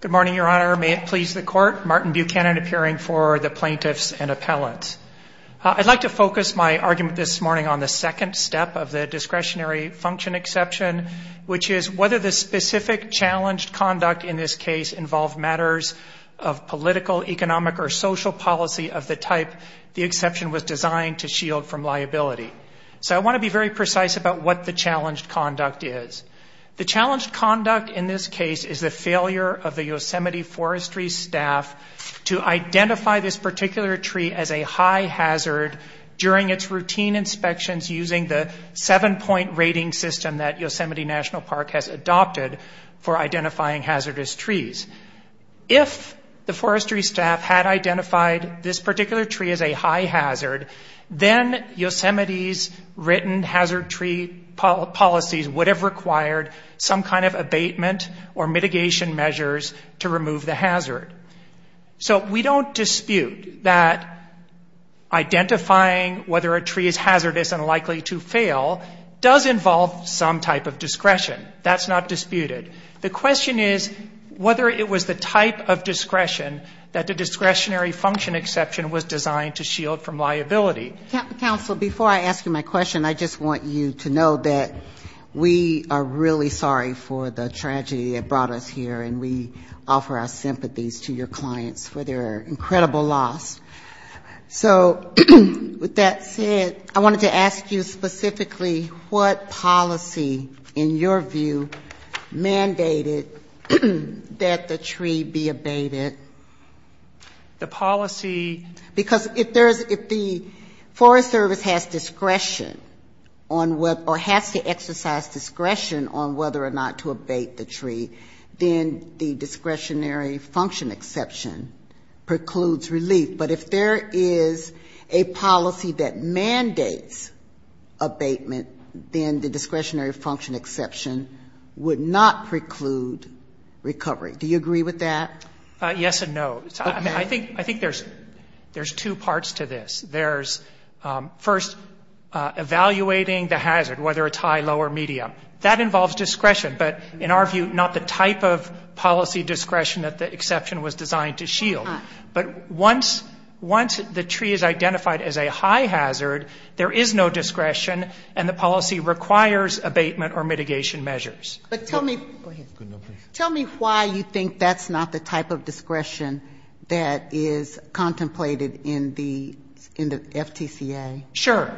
Good morning, Your Honor. May it please the Court. Martin Buchanan appearing for the Plaintiffs and Appellants. I'd like to focus my argument this morning on the second step of the discretionary function exception, which is whether the specific challenged conduct in this case involved matters of political, economic, or social policy of the type the exception was designed to shield from liability. So I want to be very precise about what the challenged conduct is. The Forestry staff to identify this particular tree as a high hazard during its routine inspections using the seven-point rating system that Yosemite National Park has adopted for identifying hazardous trees. If the forestry staff had identified this particular tree as a high hazard, then Yosemite's written hazard tree policies would have required some kind of mitigation measures to remove the hazard. So we don't dispute that identifying whether a tree is hazardous and likely to fail does involve some type of discretion. That's not disputed. The question is whether it was the type of discretion that the discretionary function exception was designed to shield from liability. Counsel, before I ask you my question, I just want you to know that we are really sorry for the tragedy that brought us here, and we offer our sympathies to your clients for their incredible loss. So with that said, I wanted to ask you specifically what policy, in your view, mandated that the tree be abated? The policy... Because if the forest service has discretion on whether or has to exercise discretion on whether or not to abate the tree, then the discretionary function exception precludes relief. But if there is a policy that mandates abatement, then the discretionary function exception would not preclude recovery. Do you agree with that? Yes and no. I think there's two parts to this. There's, first, evaluating the hazard, whether it's high, low, or medium. That involves discretion. But in our view, not the type of policy discretion that the exception was designed to shield. But once the tree is identified as a high hazard, there is no discretion, and the policy requires abatement or mitigation measures. So you think that's not the type of discretion that is contemplated in the FTCA? Sure.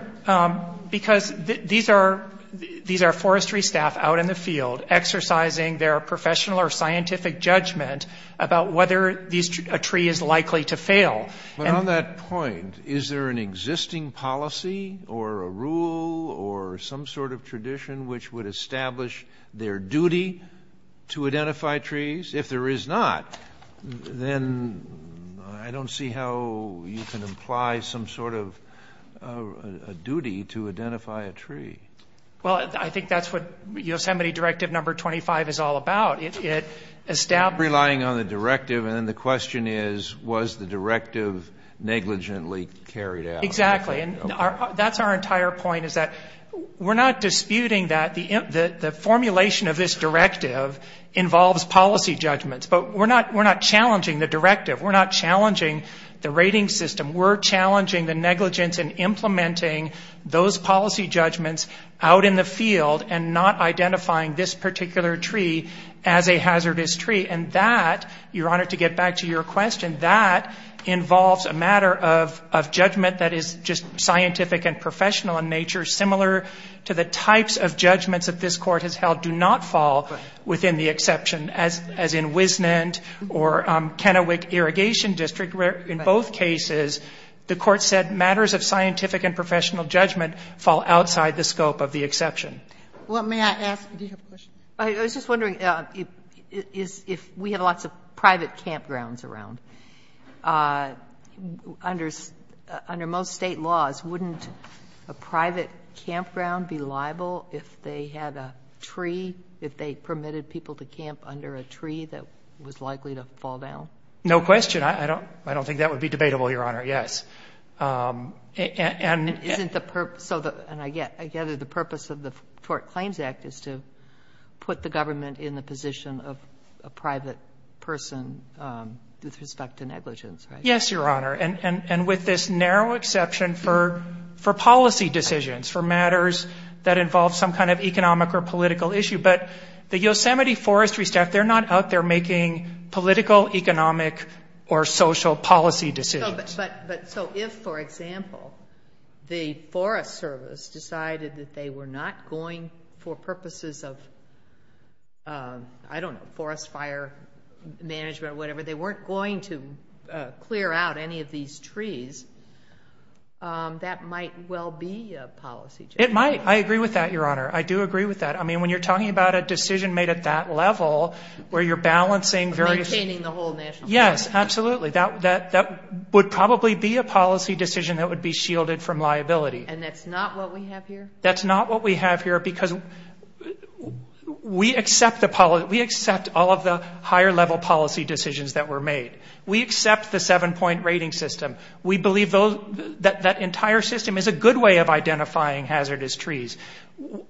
Because these are forestry staff out in the field exercising their professional or scientific judgment about whether a tree is likely to fail. But on that point, is there an existing policy or a rule or some sort of tradition which would establish their duty to identify trees? If there is not, then I don't see how you can imply some sort of duty to identify a tree. Well, I think that's what Yosemite Directive No. 25 is all about. Relying on the directive, and then the question is, was the directive negligently carried out? Exactly. And that's our entire point, is that we're not disputing that the formulation of this directive is a policy judgment. But we're not challenging the directive. We're not challenging the rating system. We're challenging the negligence in implementing those policy judgments out in the field and not identifying this particular tree as a hazardous tree. And that, Your Honor, to get back to your question, that involves a matter of judgment that is just scientific and professional in nature, similar to the types of judgments that this Court has held do not fall under the exception, as in Wisnant or Kennewick Irrigation District, where in both cases the Court said matters of scientific and professional judgment fall outside the scope of the exception. I was just wondering if we have lots of private campgrounds around. Under most State laws, wouldn't a private campground be liable if they had a tree, if they permitted people to camp under a tree that was likely to fall down? No question. I don't think that would be debatable, Your Honor, yes. Isn't the purpose, and I gather the purpose of the Tort Claims Act is to put the government in the position of a private person with respect to negligence, right? Yes, Your Honor, and with this narrow exception for policy decisions, for matters that involve some kind of economic or political issue. But the Yosemite Forestry staff, they're not out there making political, economic or social policy decisions. But so if, for example, the Forest Service decided that they were not going for purposes of, I don't know, forest fire management or whatever, they weren't going to clear out any of these trees, that might well be a policy decision. It might. I agree with that, Your Honor. I do agree with that. I mean, when you're talking about a decision made at that level, where you're balancing various... Maintaining the whole national forest. Yes, absolutely. That would probably be a policy decision that would be shielded from liability. And that's not what we have here? That's not what we have here, because we accept all of the higher-level policy decisions that were made. We accept the seven-point rating system. We believe that that entire system is a good way of identifying hazardous trees.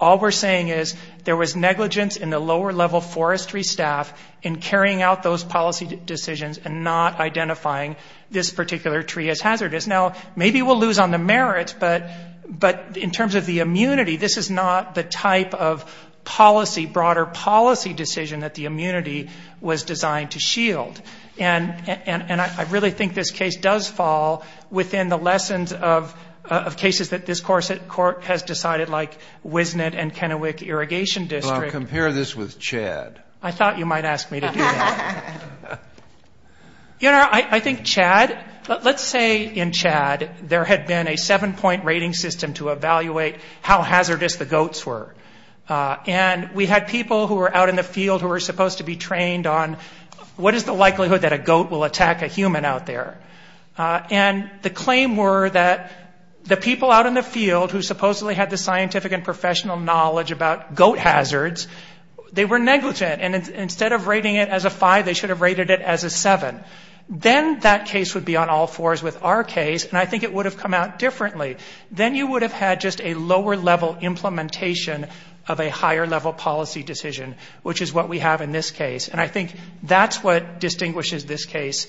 All we're saying is there was negligence in the lower-level forestry staff in carrying out those policy decisions and not identifying this particular tree as hazardous. Now, maybe we'll lose on the merits, but in terms of the immunity, this is not the type of policy, broader policy decision that the immunity was designed to shield. And I really think this case does fall within the lessons of cases that this Court has decided, like Wisnet and Kennewick Irrigation District. You know, I think Chad, let's say in Chad there had been a seven-point rating system to evaluate how hazardous the goats were. And we had people who were out in the field who were supposed to be trained on what is the likelihood that a goat will attack a human out there. And the claim were that the people out in the field who supposedly had the scientific and professional knowledge about goat hazards, they were negligent. And instead of rating it as a five, they should have rated it as a seven. Then that case would be on all fours with our case, and I think it would have come out differently. Then you would have had just a lower-level implementation of a higher-level policy decision, which is what we have in this case. And I think that's what distinguishes this case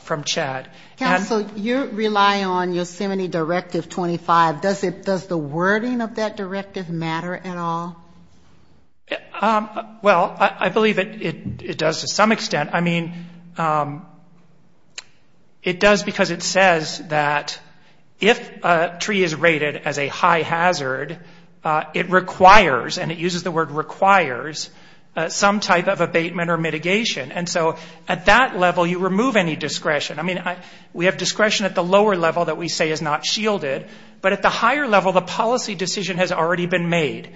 from Chad. And so you rely on Yosemite Directive 25. Does the wording of that directive matter at all? Well, I believe it does to some extent. I mean, it does because it says that if a tree is rated as a high hazard, it requires, and it uses the word requires, some type of abatement or mitigation. And so at that level, you remove any discretion. I mean, we have discretion at the lower level that we say is not shielded. But at the higher level, the policy decision has already been made.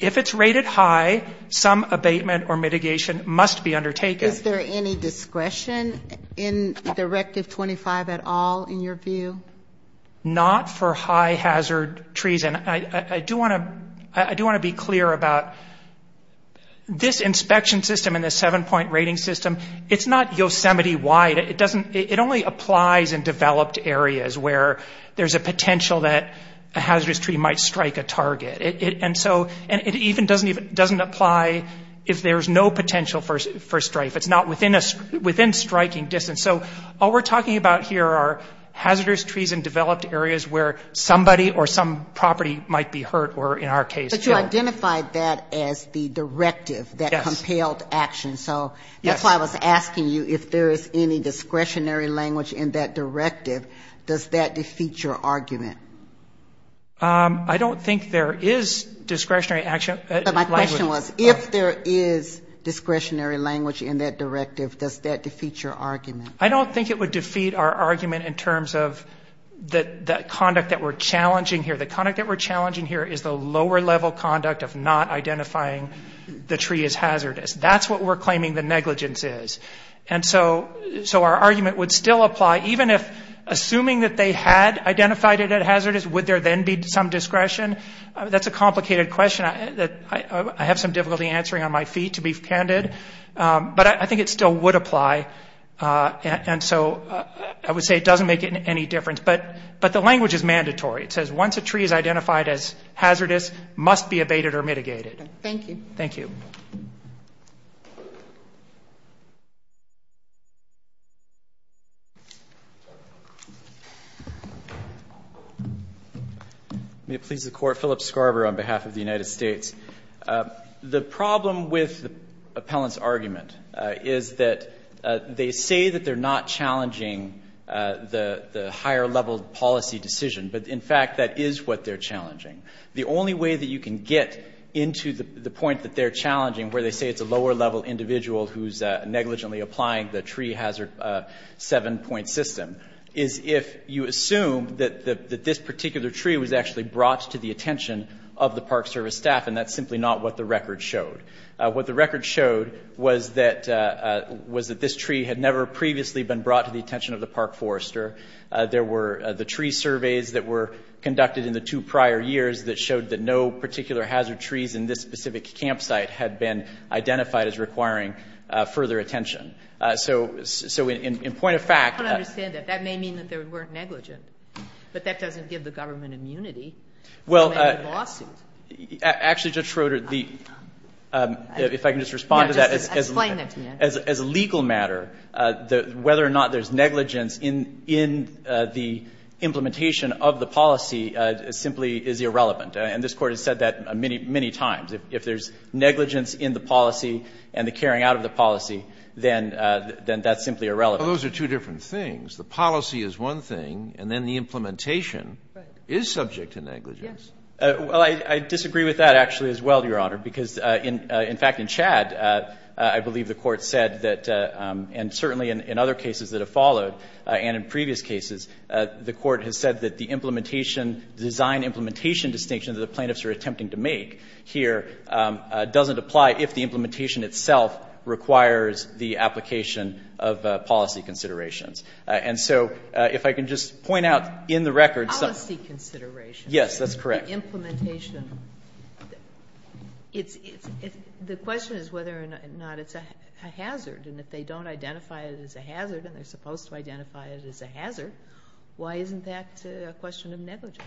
If it's rated high, some abatement or mitigation must be undertaken. Is there any discretion in Directive 25 at all, in your view? Not for high hazard trees. And I do want to be clear about this inspection system and this seven-point rating system, it's not Yosemite-wide. It only applies in developed areas where there's a potential that a hazardous tree might strike you. And so it doesn't even apply if there's no potential for strife. It's not within striking distance. So all we're talking about here are hazardous trees in developed areas where somebody or some property might be hurt, or in our case. But you identified that as the directive that compelled action. So that's why I was asking you if there is any discretionary language in that directive. Does that defeat your argument? I don't think there is discretionary action. But my question was, if there is discretionary language in that directive, does that defeat your argument? I don't think it would defeat our argument in terms of the conduct that we're challenging here. The conduct that we're challenging here is the lower-level conduct of not identifying the tree as hazardous. That's what we're claiming the negligence is. And so our argument would still apply, even if, assuming that they had identified it at a higher level, that they identified it as hazardous. Would there then be some discretion? That's a complicated question that I have some difficulty answering on my feet, to be candid. But I think it still would apply. And so I would say it doesn't make any difference. But the language is mandatory. It says once a tree is identified as hazardous, it must be abated or mitigated. Thank you. May it please the Court. Philip Scarborough on behalf of the United States. The problem with the appellant's argument is that they say that they're not challenging the higher-level policy decision. But, in fact, that is what they're challenging. The only way that you can get into the point that they're challenging, where they say it's a lower-level individual who's negligently applying the tree hazard seven-point system, is if you assume that this person is negligent, that this particular tree was actually brought to the attention of the Park Service staff, and that's simply not what the record showed. What the record showed was that this tree had never previously been brought to the attention of the Park Forester. There were the tree surveys that were conducted in the two prior years that showed that no particular hazard trees in this specific campsite had been identified as requiring further attention. So in point of fact... I don't understand that. That may mean that they weren't negligent, but that doesn't give the government immunity to make a lawsuit. Actually, Judge Schroeder, if I can just respond to that as a legal matter, whether or not there's negligence in the implementation of the policy simply is irrelevant. And this Court has said that many, many times. If there's negligence in the policy and the carrying out of the policy, then that's simply irrelevant. Well, those are two different things. The policy is one thing, and then the implementation is subject to negligence. Well, I disagree with that, actually, as well, Your Honor, because, in fact, in Chad, I believe the Court said that, and certainly in other cases that have followed, and in previous cases, the Court has said that the implementation design, implementation distinction that the plaintiffs are attempting to make here doesn't apply if the implementation itself requires the application of policy considerations. And so if I can just point out in the record... Policy considerations. Yes, that's correct. The question is whether or not it's a hazard, and if they don't identify it as a hazard, and they're supposed to identify it as a hazard, why isn't that a question of negligence?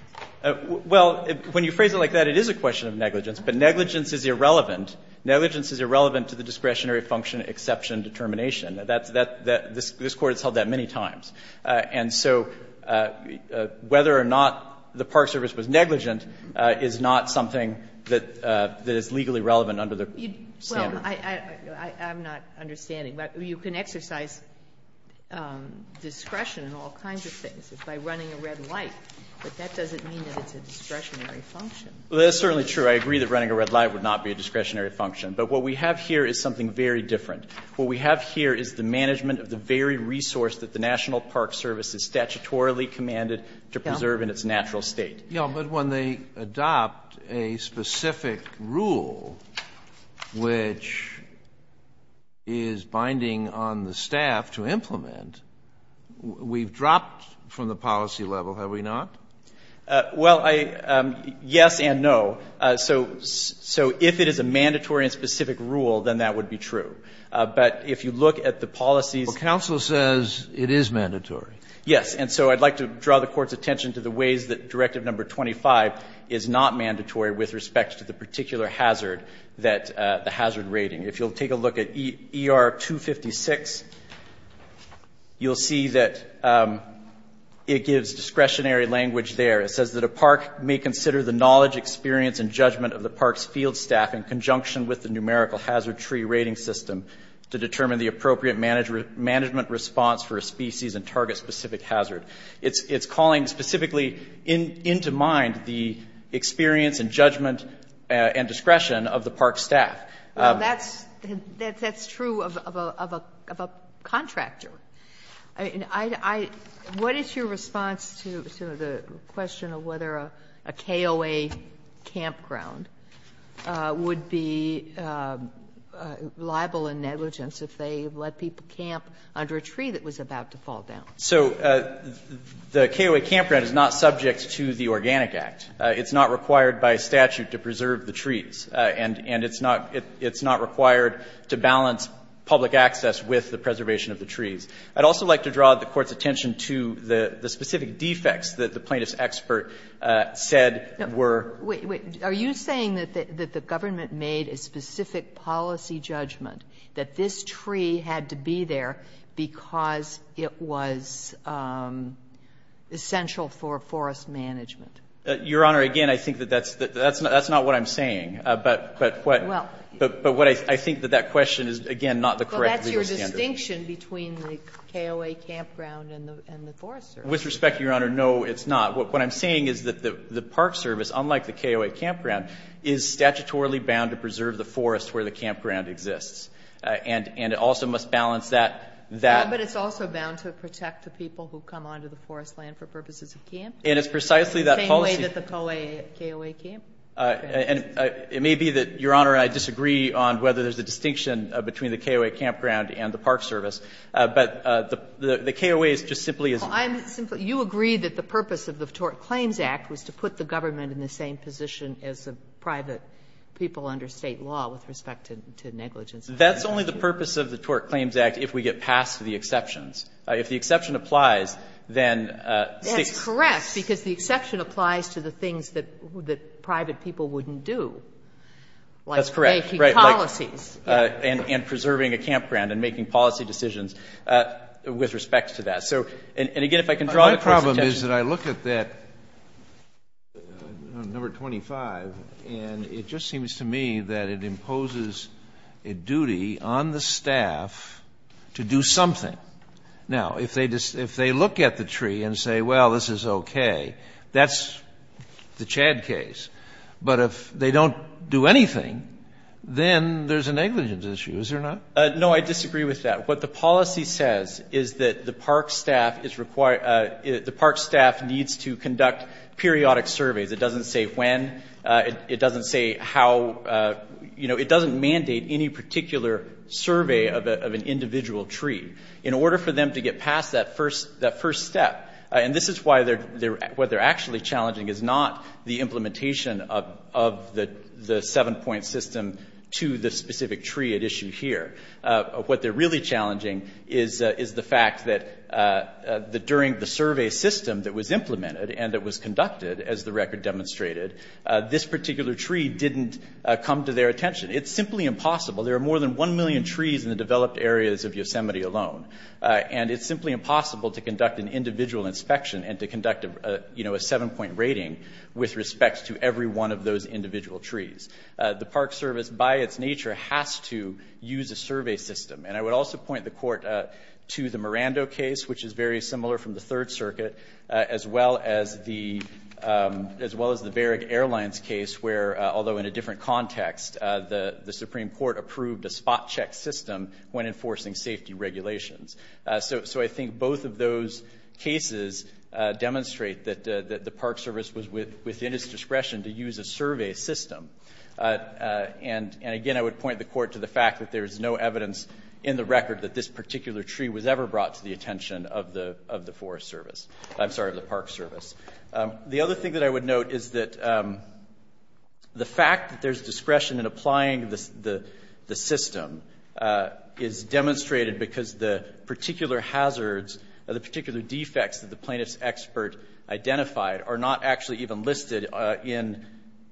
Well, when you phrase it like that, it is a question of negligence, but negligence is irrelevant. Negligence is irrelevant to the discretionary function exception determination. This Court has held that many times. And so whether or not the Park Service was negligent is not something that is legally relevant under the standard. Well, I'm not understanding. You can exercise discretion in all kinds of things by running a red light, but that doesn't mean that it's a discretionary function. Well, that's certainly true. I agree that running a red light would not be a discretionary function. But what we have here is something very different. What we have here is the management of the very resource that the National Park Service is statutorily commanded to preserve in its natural state. Yes, but when they adopt a specific rule which is binding on the staff to implement, we've dropped from the policy level, have we not? Well, yes and no. So if it is a mandatory and specific rule, then that would be true. But if you look at the policies... Well, counsel says it is mandatory. Yes. And so I'd like to draw the Court's attention to the ways that Directive No. 25 is not mandatory with respect to the particular hazard, the hazard rating. If you'll take a look at ER 256, you'll see that it gives discretionary language to the staff. It says that a park may consider the knowledge, experience, and judgment of the park's field staff in conjunction with the numerical hazard tree rating system to determine the appropriate management response for a species and target specific hazard. It's calling specifically into mind the experience and judgment and discretion of the park staff. Well, that's true of a contractor. I mean, I — what is your response to the question of whether a KOA campground would be liable in negligence if they let people camp under a tree that was about to fall down? So the KOA campground is not subject to the Organic Act. It's not required by statute to preserve the trees, and it's not required to balance public access with the preservation of the trees. I'd also like to draw the Court's attention to the specific defects that the plaintiff's expert said were. Wait, wait. Are you saying that the government made a specific policy judgment that this tree had to be there because it was essential for forest management? Your Honor, again, I think that that's not what I'm saying. But what I think that that question is, again, not the correct legal standard. It's the distinction between the KOA campground and the forest service. With respect, Your Honor, no, it's not. What I'm saying is that the park service, unlike the KOA campground, is statutorily bound to preserve the forest where the campground exists, and it also must balance that. But it's also bound to protect the people who come onto the forest land for purposes of camp. And it's precisely that policy. The same way that the KOA campground is. And it may be that, Your Honor, I disagree on whether there's a distinction between the KOA campground and the park service. But the KOA is just simply as well. You agree that the purpose of the Tort Claims Act was to put the government in the same position as the private people under State law with respect to negligence. That's only the purpose of the Tort Claims Act if we get past the exceptions. If the exception applies, then State. It's correct, because the exception applies to the things that private people wouldn't do, like making policies. That's correct, right. And preserving a campground and making policy decisions with respect to that. So, and again, if I can draw the court's attention. My problem is that I look at that number 25, and it just seems to me that it imposes a duty on the staff to do something. Now, if they look at the tree and say, well, this is okay, that's the Chad case. But if they don't do anything, then there's a negligence issue, is there not? No, I disagree with that. What the policy says is that the park staff is required, the park staff needs to conduct periodic surveys. It doesn't say when. It doesn't say how, you know, it doesn't mandate any particular survey of an individual tree. In order for them to get past that first step, and this is why what they're actually challenging is not the implementation of the seven-point system to the specific tree at issue here. What they're really challenging is the fact that during the survey system that was implemented and that was conducted, as the record demonstrated, this particular tree didn't come to their attention. It's simply impossible. There are more than one million trees in the developed areas of Yosemite alone. And it's simply impossible to conduct an individual inspection and to conduct, you know, a seven-point rating with respect to every one of those individual trees. The Park Service, by its nature, has to use a survey system. And I would also point the Court to the Miranda case, which is very similar from the Third Circuit, as well as the Barrick Airlines case where, although in a different context, the Supreme Court approved a spot check system when enforcing safety regulations. So I think both of those cases demonstrate that the Park Service was within its discretion to use a survey system. And again, I would point the Court to the fact that there is no evidence in the record that this particular tree was ever brought to the attention of the Park Service. The other thing that I would note is that the fact that there's discretion in applying the system is demonstrated because the particular hazards or the particular defects that the plaintiff's expert identified are not actually even listed in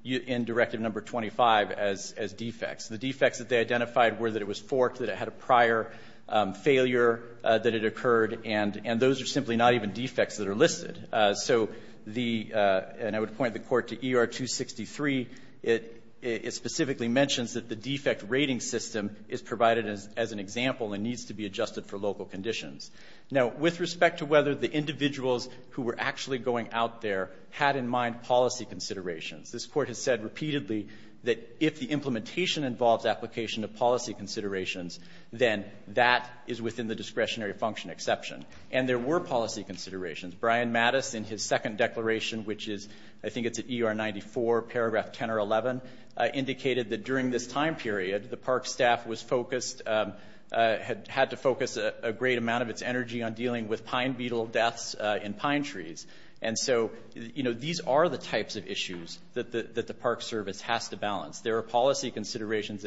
Directive No. 25 as defects. The defects that they identified were that it was forked, that it had a prior failure, that it occurred, and those are simply not even defects that are listed. And I would point the Court to ER 263. It specifically mentions that the defect rating system is provided as an example and needs to be adjusted for local conditions. Now, with respect to whether the individuals who were actually going out there had in mind policy considerations, this Court has said repeatedly that if the implementation involves application of policy considerations, then that is within the discretionary function exception. And there were policy considerations. Brian Mattis, in his second declaration, which is, I think it's at ER 94, paragraph 10 or 11, indicated that during this time period, the Park Staff was focused, had to focus a great amount of its energy on dealing with pine beetle deaths in pine trees. And so, you know, these are the types of issues that the Park Service has to balance. There are policy considerations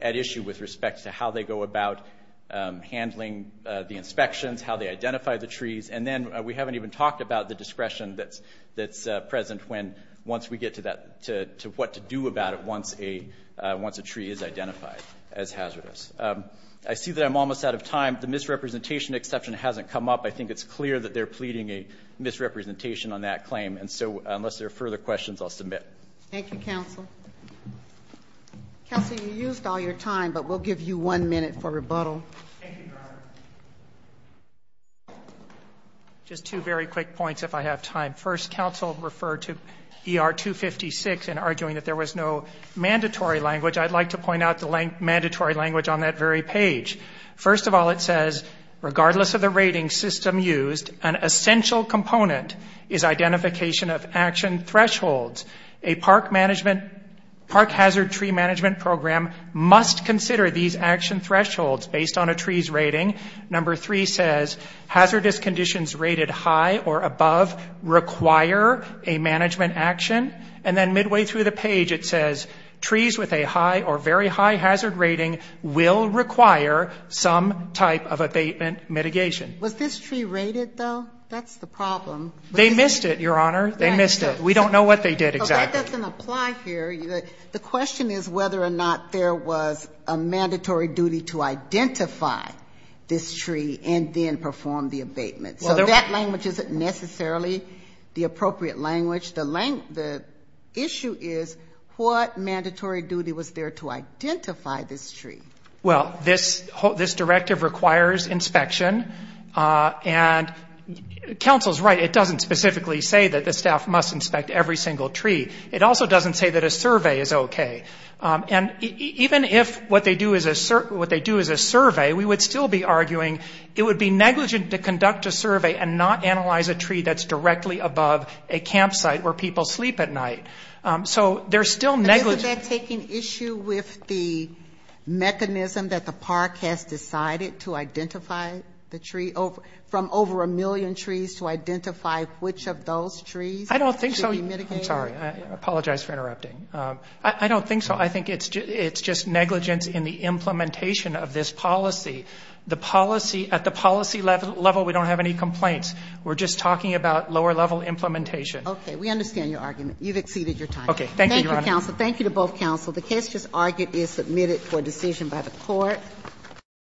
at issue with respect to how they go about handling the inspections, how they identify the trees, and then we haven't even talked about the discretion that's present once we get to what to do about it once a tree is identified as hazardous. I see that I'm almost out of time. The misrepresentation exception hasn't come up. I think it's clear that they're pleading a misrepresentation on that claim. And so, unless there are further questions, I'll submit. Thank you, Counsel. Counsel, you used all your time, but we'll give you one minute for rebuttal. Thank you, Governor. Just two very quick points if I have time. First, Counsel referred to ER 256 and arguing that there was no mandatory language. I'd like to point out the mandatory language on that very page. First of all, it says, regardless of the rating system used, an essential component is identification of action thresholds. A park hazard tree management program must consider these action thresholds based on a tree's rating. Number three says hazardous conditions rated high or above require a management action. And then midway through the page, it says trees with a high or very high hazard rating will require some type of abatement mitigation. Was this tree rated, though? That's the problem. They missed it, Your Honor. They missed it. We don't know what they did exactly. That doesn't apply here. The question is whether or not there was a mandatory duty to identify this tree and then perform the abatement. So that language isn't necessarily the appropriate language. The issue is what mandatory duty was there to identify this tree? Well, this directive requires inspection. And counsel is right. It doesn't specifically say that the staff must inspect every single tree. It also doesn't say that a survey is okay. And even if what they do is a survey, we would still be arguing it would be negligent to conduct a survey and not analyze a tree that's directly above a campsite where people sleep at night. So they're still negligent. Does that take an issue with the mechanism that the park has decided to identify the tree from over a million trees to identify which of those trees should be mitigated? I don't think so. I'm sorry. I apologize for interrupting. I don't think so. I think it's just negligence in the implementation of this policy. At the policy level, we don't have any complaints. We're just talking about lower-level implementation. Okay. We understand your argument. You've exceeded your time. Okay. Thank you, Your Honor. Thank you, counsel. Thank you to both counsel. The case just argued is submitted for decision by the court.